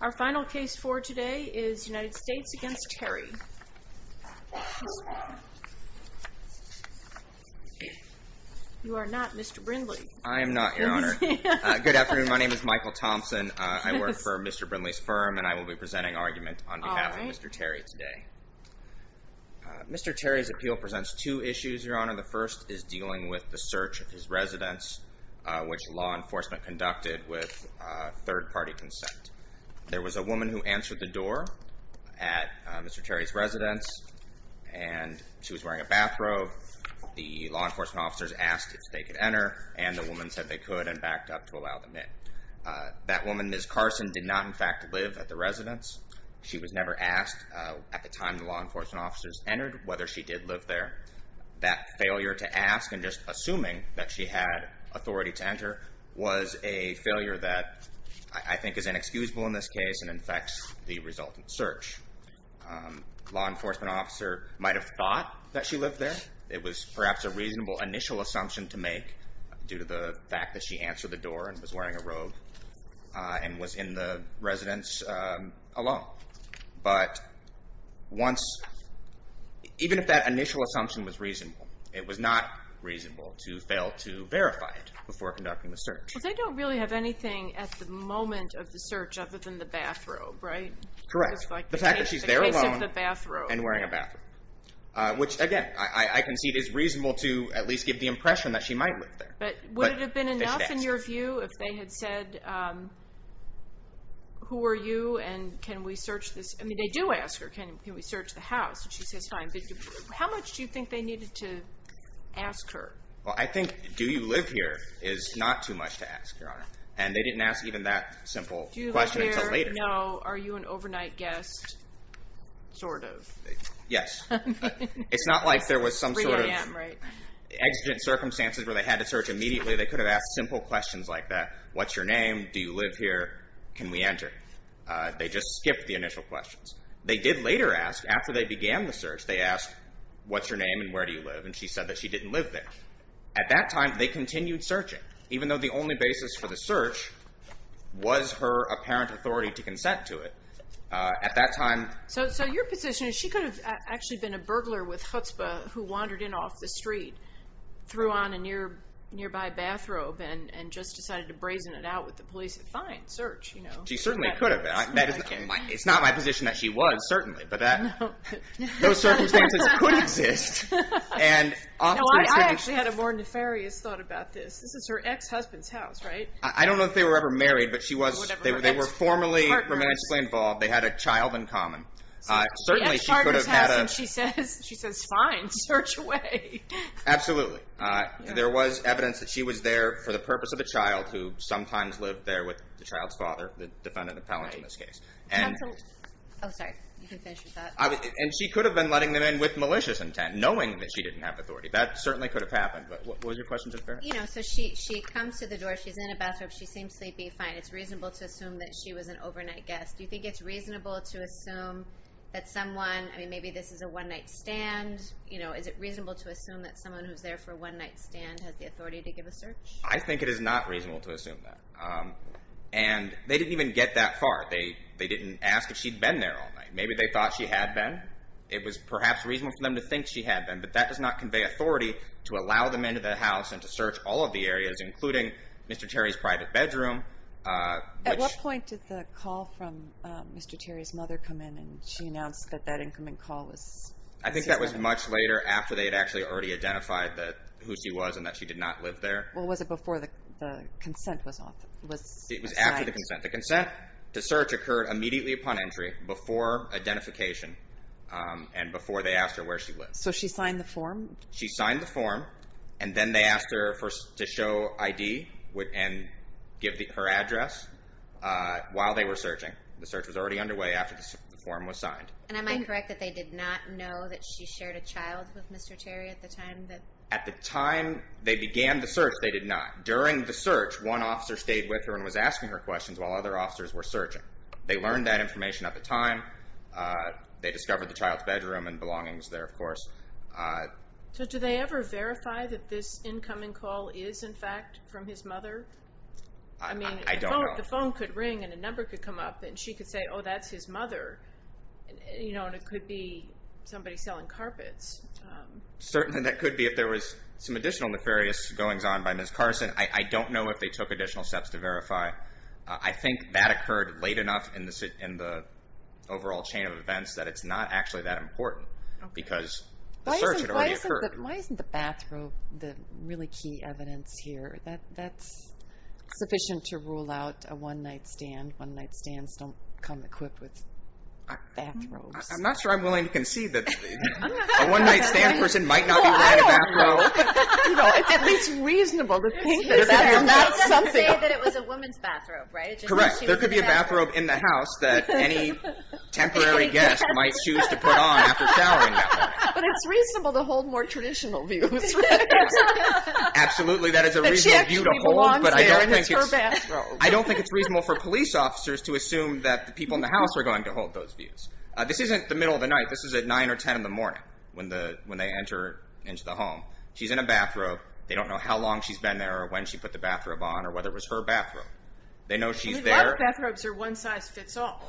Our final case for today is United States v. Terry. You are not Mr. Brindley. I am not, Your Honor. Good afternoon. My name is Michael Thompson. I work for Mr. Brindley's firm and I will be presenting argument on behalf of Mr. Terry today. Mr. Terry's appeal presents two issues, Your Honor. The first is dealing with the search of his residence, which law enforcement conducted with third-party consent. There was a woman who answered the door at Mr. Terry's residence, and she was wearing a bathrobe. The law enforcement officers asked if they could enter, and the woman said they could and backed up to allow them in. That woman, Ms. Carson, did not, in fact, live at the residence. She was never asked at the time the law enforcement officers entered whether she did live there. That failure to ask and just assuming that she had authority to enter was a failure that I think is inexcusable in this case and infects the resultant search. The law enforcement officer might have thought that she lived there. It was perhaps a reasonable initial assumption to make due to the fact that she answered the door and was wearing a robe and was in the residence alone. But even if that initial assumption was reasonable, it was not reasonable to fail to verify it before conducting the search. Well, they don't really have anything at the moment of the search other than the bathrobe, right? Correct. The fact that she's there alone and wearing a bathrobe, which, again, I concede is reasonable to at least give the impression that she might live there. But would it have been enough, in your view, if they had said, who are you and can we search this? I mean, they do ask her, can we search the house? And she says, fine. How much do you think they needed to ask her? Well, I think, do you live here is not too much to ask, Your Honor. And they didn't ask even that simple question until later. Do you live there? No. Are you an overnight guest, sort of? Yes. It's not like there was some sort of… 3 a.m., right? Exigent circumstances where they had to search immediately, they could have asked simple questions like that. What's your name? Do you live here? Can we enter? They just skipped the initial questions. They did later ask, after they began the search, they asked, what's your name and where do you live? And she said that she didn't live there. At that time, they continued searching, even though the only basis for the search was her apparent authority to consent to it. At that time… So your position is she could have actually been a burglar with chutzpah who wandered in off the street, threw on a nearby bathrobe, and just decided to brazen it out with the police. Fine. Search. She certainly could have been. It's not my position that she was, certainly. But those circumstances could exist. I actually had a more nefarious thought about this. This is her ex-husband's house, right? I don't know if they were ever married, but they were formally romantically involved. They had a child in common. The ex-partner's house, and she says, fine, search away. Absolutely. There was evidence that she was there for the purpose of a child, who sometimes lived there with the child's father, the defendant appellant in this case. Counsel. Oh, sorry. You can finish your thought. And she could have been letting them in with malicious intent, knowing that she didn't have authority. That certainly could have happened. What was your question? So she comes to the door. She's in a bathrobe. She seems sleepy. Fine. It's reasonable to assume that she was an overnight guest. Do you think it's reasonable to assume that someone, I mean, maybe this is a one-night stand. Is it reasonable to assume that someone who's there for a one-night stand has the authority to give a search? I think it is not reasonable to assume that. And they didn't even get that far. They didn't ask if she'd been there all night. Maybe they thought she had been. It was perhaps reasonable for them to think she had been, but that does not convey authority to allow them into the house and to search all of the areas, including Mr. Terry's private bedroom. At what point did the call from Mr. Terry's mother come in, and she announced that that incoming call was? I think that was much later, after they had actually already identified who she was and that she did not live there. Well, was it before the consent was assigned? It was after the consent. The consent to search occurred immediately upon entry, before identification, and before they asked her where she lived. So she signed the form? She signed the form, and then they asked her to show ID and give her address while they were searching. The search was already underway after the form was signed. And am I correct that they did not know that she shared a child with Mr. Terry at the time? At the time they began the search, they did not. During the search, one officer stayed with her and was asking her questions while other officers were searching. They learned that information at the time. They discovered the child's bedroom and belongings there, of course. So do they ever verify that this incoming call is, in fact, from his mother? I don't know. I mean, the phone could ring, and a number could come up, and she could say, oh, that's his mother. You know, and it could be somebody selling carpets. Certainly that could be. If there was some additional nefarious goings on by Ms. Carson, I don't know if they took additional steps to verify. I think that occurred late enough in the overall chain of events that it's not actually that important. Because the search had already occurred. Why isn't the bathrobe the really key evidence here? That's sufficient to rule out a one-night stand. One-night stands don't come equipped with bathrobes. I'm not sure I'm willing to concede that a one-night stand person might not be wearing a bathrobe. Well, I don't know. You know, it's at least reasonable to think that there's something. Well, they did say that it was a woman's bathrobe, right? Correct. There could be a bathrobe in the house that any temporary guest might choose to put on after showering that night. But it's reasonable to hold more traditional views. Absolutely, that is a reasonable view to hold. But she actually belongs there, and it's her bathrobe. I don't think it's reasonable for police officers to assume that the people in the house are going to hold those views. This isn't the middle of the night. This is at 9 or 10 in the morning when they enter into the home. She's in a bathrobe. They don't know how long she's been there or when she put the bathrobe on or whether it was her bathrobe. They know she's there. You'd like bathrobes that are one size fits all.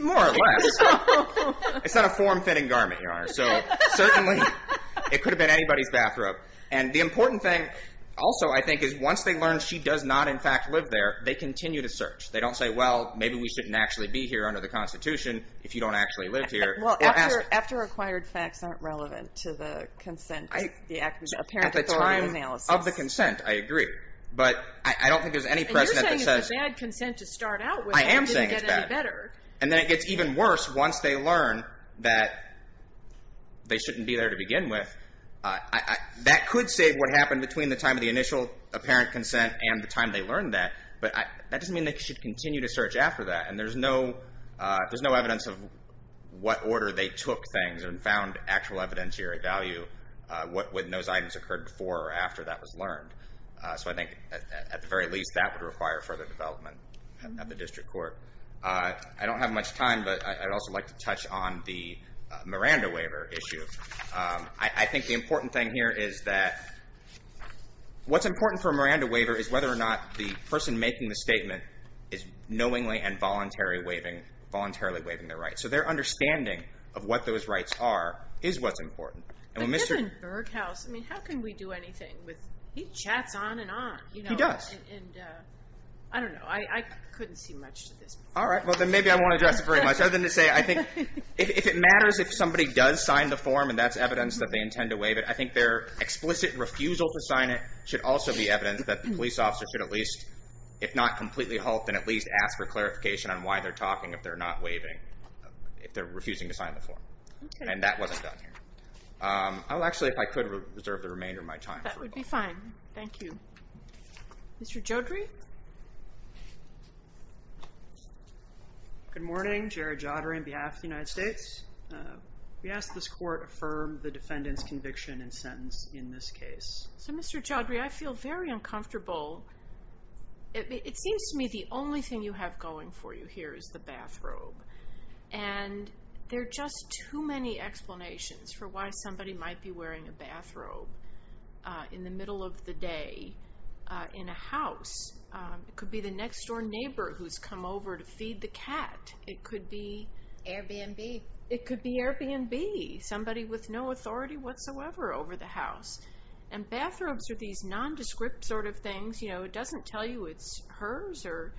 More or less. Fits all. It's not a form-fitting garment, Your Honor, so certainly it could have been anybody's bathrobe. And the important thing also, I think, is once they learn she does not, in fact, live there, they continue to search. They don't say, well, maybe we shouldn't actually be here under the Constitution if you don't actually live here. Well, after acquired facts aren't relevant to the consent, the apparent authority analysis. At the time of the consent, I agree. But I don't think there's any precedent that says. And you're saying it's a bad consent to start out with. I am saying it's bad. It didn't get any better. And then it gets even worse once they learn that they shouldn't be there to begin with. That could save what happened between the time of the initial apparent consent and the time they learned that. But that doesn't mean they should continue to search after that. And there's no evidence of what order they took things and found actual evidence here at value, what those items occurred before or after that was learned. So I think, at the very least, that would require further development at the district court. I don't have much time, but I'd also like to touch on the Miranda waiver issue. I think the important thing here is that what's important for a Miranda waiver is whether or not the person making the statement is knowingly and voluntarily waiving their rights. So their understanding of what those rights are is what's important. But Mr. Berghaus, I mean, how can we do anything? He chats on and on. He does. And I don't know. I couldn't see much to this. All right. Well, then maybe I won't address it very much. Other than to say I think if it matters if somebody does sign the form and that's evidence that they intend to waive it, I think their explicit refusal to sign it should also be evidence that the police officer should at least, if not completely halt, then at least ask for clarification on why they're talking if they're not waiving, if they're refusing to sign the form. And that wasn't done here. Actually, if I could reserve the remainder of my time. That would be fine. Thank you. Mr. Jodry? Good morning. Jared Jodry on behalf of the United States. We ask that this court affirm the defendant's conviction and sentence in this case. So, Mr. Jodry, I feel very uncomfortable. It seems to me the only thing you have going for you here is the bathrobe. And there are just too many explanations for why somebody might be wearing a bathrobe in the middle of the day in a house. It could be the next-door neighbor who's come over to feed the cat. It could be. Airbnb. It could be Airbnb. Somebody with no authority whatsoever over the house. And bathrobes are these nondescript sort of things. You know, it doesn't tell you it's hers or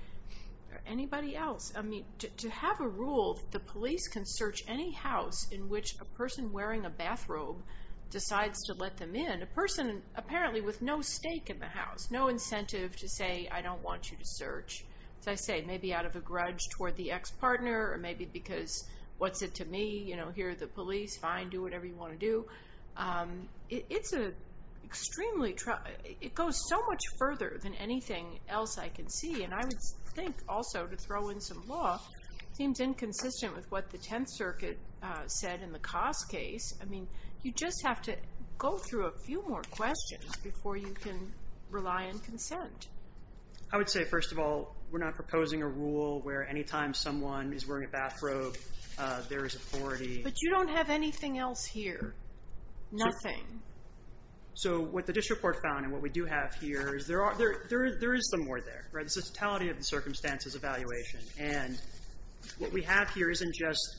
anybody else. I mean, to have a rule that the police can search any house in which a person wearing a bathrobe decides to let them in, a person apparently with no stake in the house, no incentive to say, I don't want you to search. As I say, maybe out of a grudge toward the ex-partner or maybe because what's it to me? You know, here are the police. Fine. Do whatever you want to do. It's an extremely – it goes so much further than anything else I can see. And I would think also to throw in some law, it seems inconsistent with what the Tenth Circuit said in the Koss case. I mean, you just have to go through a few more questions before you can rely on consent. I would say, first of all, we're not proposing a rule where any time someone is wearing a bathrobe, there is authority. But you don't have anything else here. Nothing. So what the district court found and what we do have here is there is some more there. This is totality of the circumstances evaluation. And what we have here isn't just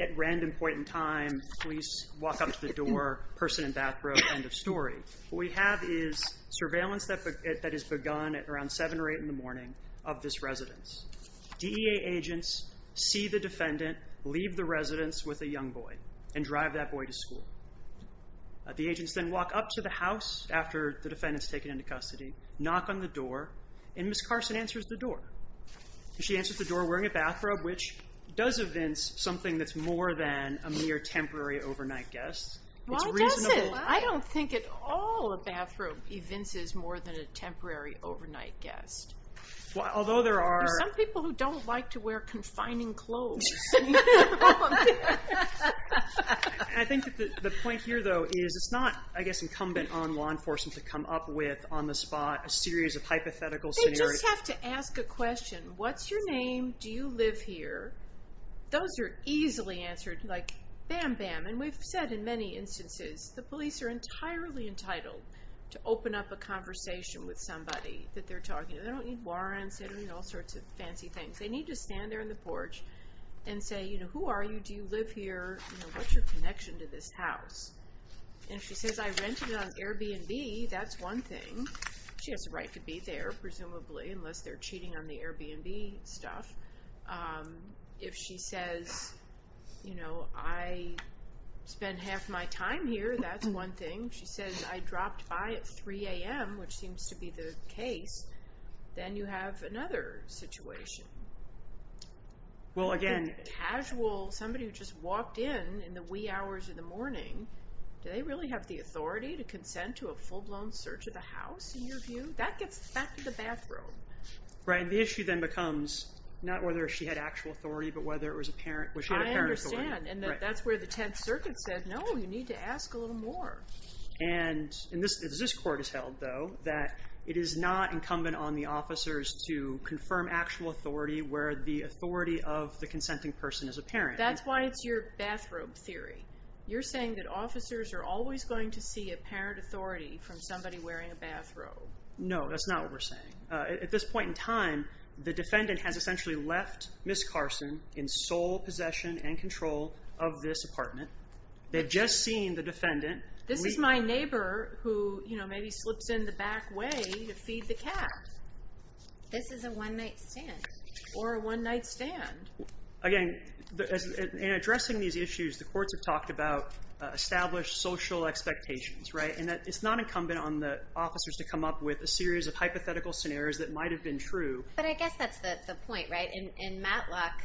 at random point in time, police walk up to the door, person in bathrobe, end of story. What we have is surveillance that has begun at around 7 or 8 in the morning of this residence. DEA agents see the defendant, leave the residence with a young boy and drive that boy to school. The agents then walk up to the house after the defendant is taken into custody, knock on the door, and Ms. Carson answers the door. She answers the door wearing a bathrobe, which does evince something that's more than a mere temporary overnight guest. Why does it? I don't think at all a bathrobe evinces more than a temporary overnight guest. Although there are... There are some people who don't like to wear confining clothes. I think the point here though is it's not, I guess, incumbent on law enforcement to come up with on the spot a series of hypothetical scenarios. They just have to ask a question. What's your name? Do you live here? Those are easily answered like bam, bam. And we've said in many instances the police are entirely entitled to open up a conversation with somebody that they're talking to. They don't need warrants. They don't need all sorts of fancy things. They need to stand there on the porch and say, you know, who are you? Do you live here? What's your connection to this house? And if she says I rented it on Airbnb, that's one thing. She has a right to be there, presumably, unless they're cheating on the Airbnb stuff. If she says, you know, I spent half my time here, that's one thing. She says I dropped by at 3 a.m., which seems to be the case. Then you have another situation. Well, again. Casual, somebody who just walked in in the wee hours of the morning. Do they really have the authority to consent to a full-blown search of the house in your view? That gets back to the bathroom. Right. The issue then becomes not whether she had actual authority, but whether it was apparent. I understand. And that's where the Tenth Circuit said, no, you need to ask a little more. And this Court has held, though, that it is not incumbent on the officers to confirm actual authority where the authority of the consenting person is apparent. That's why it's your bathrobe theory. You're saying that officers are always going to see apparent authority from somebody wearing a bathrobe. No, that's not what we're saying. At this point in time, the defendant has essentially left Ms. Carson in sole possession and control of this apartment. They've just seen the defendant. This is my neighbor who maybe slips in the back way to feed the cat. This is a one-night stand. Or a one-night stand. Again, in addressing these issues, the courts have talked about established social expectations. It's not incumbent on the officers to come up with a series of hypothetical scenarios that might have been true. But I guess that's the point, right? In Matlock,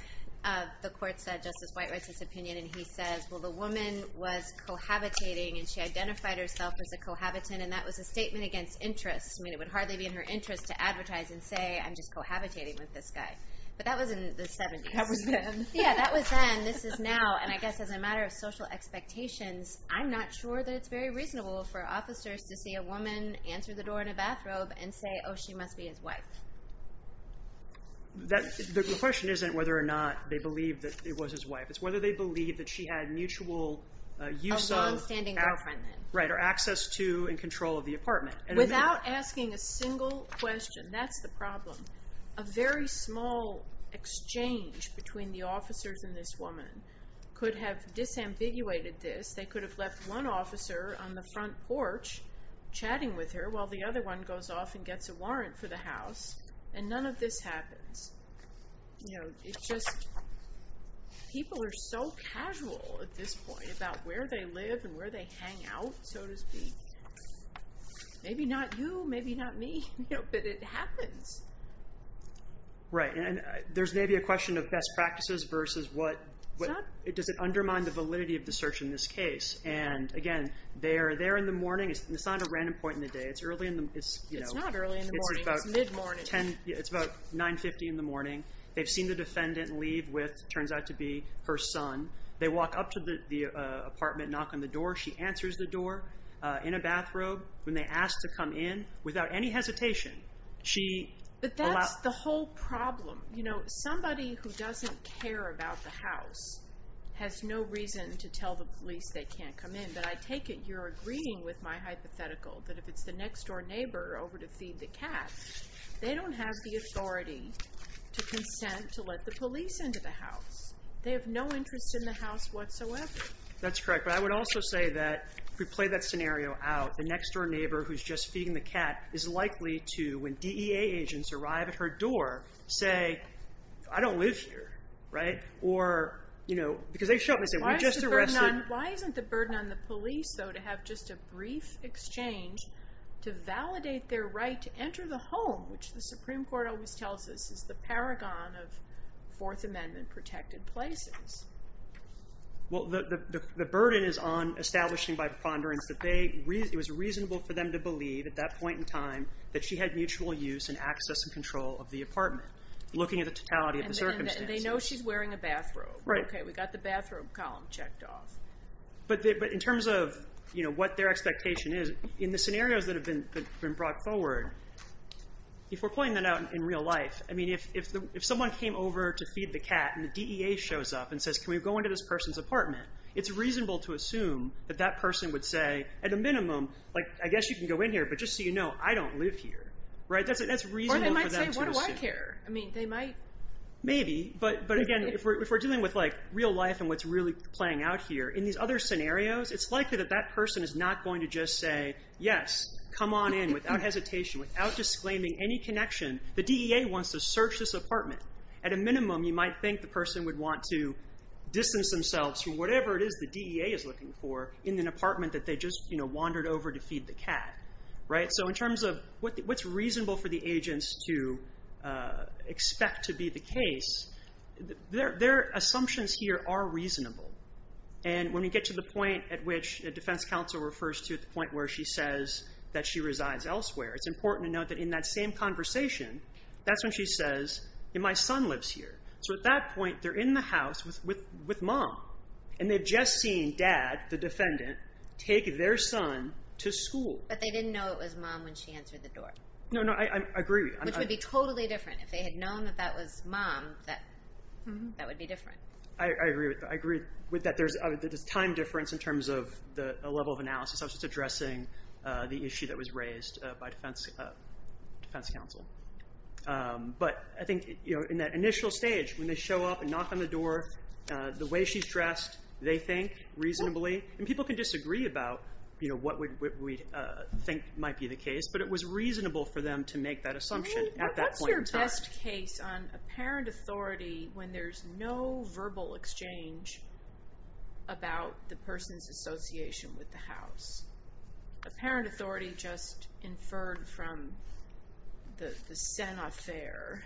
the court said, Justice White writes this opinion, and he says, well, the woman was cohabitating, and she identified herself as a cohabitant, and that was a statement against interest. I mean, it would hardly be in her interest to advertise and say, I'm just cohabitating with this guy. But that was in the 70s. That was then. Yeah, that was then. This is now. Well, and I guess as a matter of social expectations, I'm not sure that it's very reasonable for officers to see a woman answer the door in a bathrobe and say, oh, she must be his wife. The question isn't whether or not they believe that it was his wife. It's whether they believe that she had mutual use of A longstanding girlfriend, then. Right, or access to and control of the apartment. Without asking a single question, that's the problem. A very small exchange between the officers and this woman could have disambiguated this. They could have left one officer on the front porch chatting with her, while the other one goes off and gets a warrant for the house, and none of this happens. You know, it's just, people are so casual at this point about where they live and where they hang out, so to speak. Maybe not you, maybe not me, but it happens. Right, and there's maybe a question of best practices versus what Does it undermine the validity of the search in this case? And again, they're there in the morning. It's not a random point in the day. It's early in the morning. It's not early in the morning. It's mid-morning. It's about 9.50 in the morning. They've seen the defendant leave with, turns out to be, her son. They walk up to the apartment, knock on the door. She answers the door in a bathrobe. When they ask to come in, without any hesitation, But that's the whole problem. You know, somebody who doesn't care about the house has no reason to tell the police they can't come in. But I take it you're agreeing with my hypothetical, that if it's the next-door neighbor over to feed the cat, they don't have the authority to consent to let the police into the house. They have no interest in the house whatsoever. That's correct, but I would also say that, if we play that scenario out, the next-door neighbor who's just feeding the cat is likely to, when DEA agents arrive at her door, say, I don't live here, right? Or, you know, because they show up and say, we just arrested. Why isn't the burden on the police, though, to have just a brief exchange to validate their right to enter the home, which the Supreme Court always tells us is the paragon of Fourth Amendment-protected places? Well, the burden is on establishing by preponderance that it was reasonable for them to believe, at that point in time, that she had mutual use and access and control of the apartment, looking at the totality of the circumstances. And they know she's wearing a bathrobe. Right. Okay, we got the bathrobe column checked off. But in terms of, you know, what their expectation is, in the scenarios that have been brought forward, if we're playing that out in real life, I mean, if someone came over to feed the cat, and the DEA shows up and says, can we go into this person's apartment, it's reasonable to assume that that person would say, at a minimum, like, I guess you can go in here, but just so you know, I don't live here, right? That's reasonable for them to assume. Or they might say, what do I care? I mean, they might. Maybe. But, again, if we're dealing with, like, real life and what's really playing out here, in these other scenarios, it's likely that that person is not going to just say, yes, come on in, without hesitation, without disclaiming any connection. The DEA wants to search this apartment. At a minimum, you might think the person would want to distance themselves from whatever it is the DEA is looking for in an apartment that they just, you know, wandered over to feed the cat, right? So in terms of what's reasonable for the agents to expect to be the case, their assumptions here are reasonable. And when we get to the point at which a defense counsel refers to, at the point where she says that she resides elsewhere, it's important to note that in that same conversation, that's when she says, my son lives here. So at that point, they're in the house with Mom. And they've just seen Dad, the defendant, take their son to school. But they didn't know it was Mom when she answered the door. No, no. I agree. Which would be totally different. If they had known that that was Mom, that would be different. There's a time difference in terms of the level of analysis. I was just addressing the issue that was raised by defense counsel. But I think, you know, in that initial stage, when they show up and knock on the door, the way she's dressed, they think reasonably. And people can disagree about, you know, what we think might be the case. But it was reasonable for them to make that assumption at that point in time. There's a just case on apparent authority when there's no verbal exchange about the person's association with the house. Apparent authority just inferred from the Senate affair.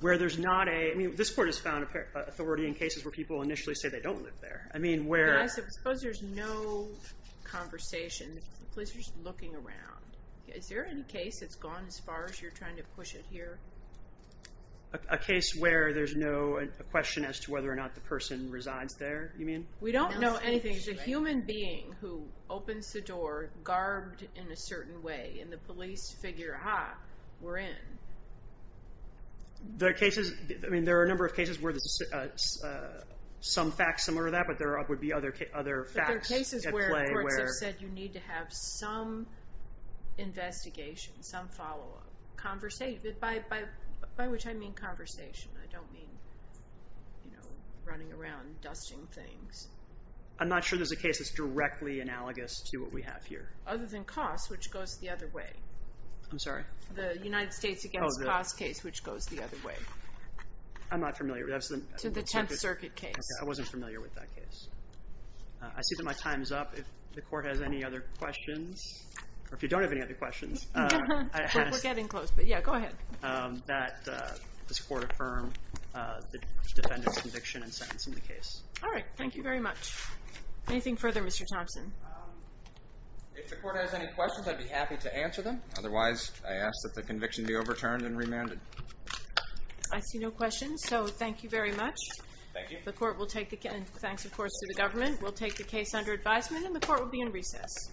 Where there's not a, I mean, this court has found authority in cases where people initially say they don't live there. I mean, where. I suppose there's no conversation. The police are just looking around. Is there any case that's gone as far as you're trying to push it here? A case where there's no question as to whether or not the person resides there, you mean? We don't know anything. It's a human being who opens the door, garbed in a certain way. And the police figure, ah, we're in. There are cases, I mean, there are a number of cases where there's some facts similar to that. But there would be other facts at play. The courts have said you need to have some investigation, some follow-up. By which I mean conversation. I don't mean, you know, running around, dusting things. I'm not sure there's a case that's directly analogous to what we have here. Other than Koss, which goes the other way. I'm sorry? The United States against Koss case, which goes the other way. I'm not familiar with that. To the Tenth Circuit case. I wasn't familiar with that case. I see that my time is up. If the Court has any other questions. Or if you don't have any other questions. We're getting close, but yeah, go ahead. That this Court affirm the defendant's conviction and sentence in the case. All right, thank you very much. Anything further, Mr. Thompson? If the Court has any questions, I'd be happy to answer them. Otherwise, I ask that the conviction be overturned and remanded. I see no questions, so thank you very much. Thank you. Thanks, of course, to the government. We'll take the case under advisement, and the Court will be in recess.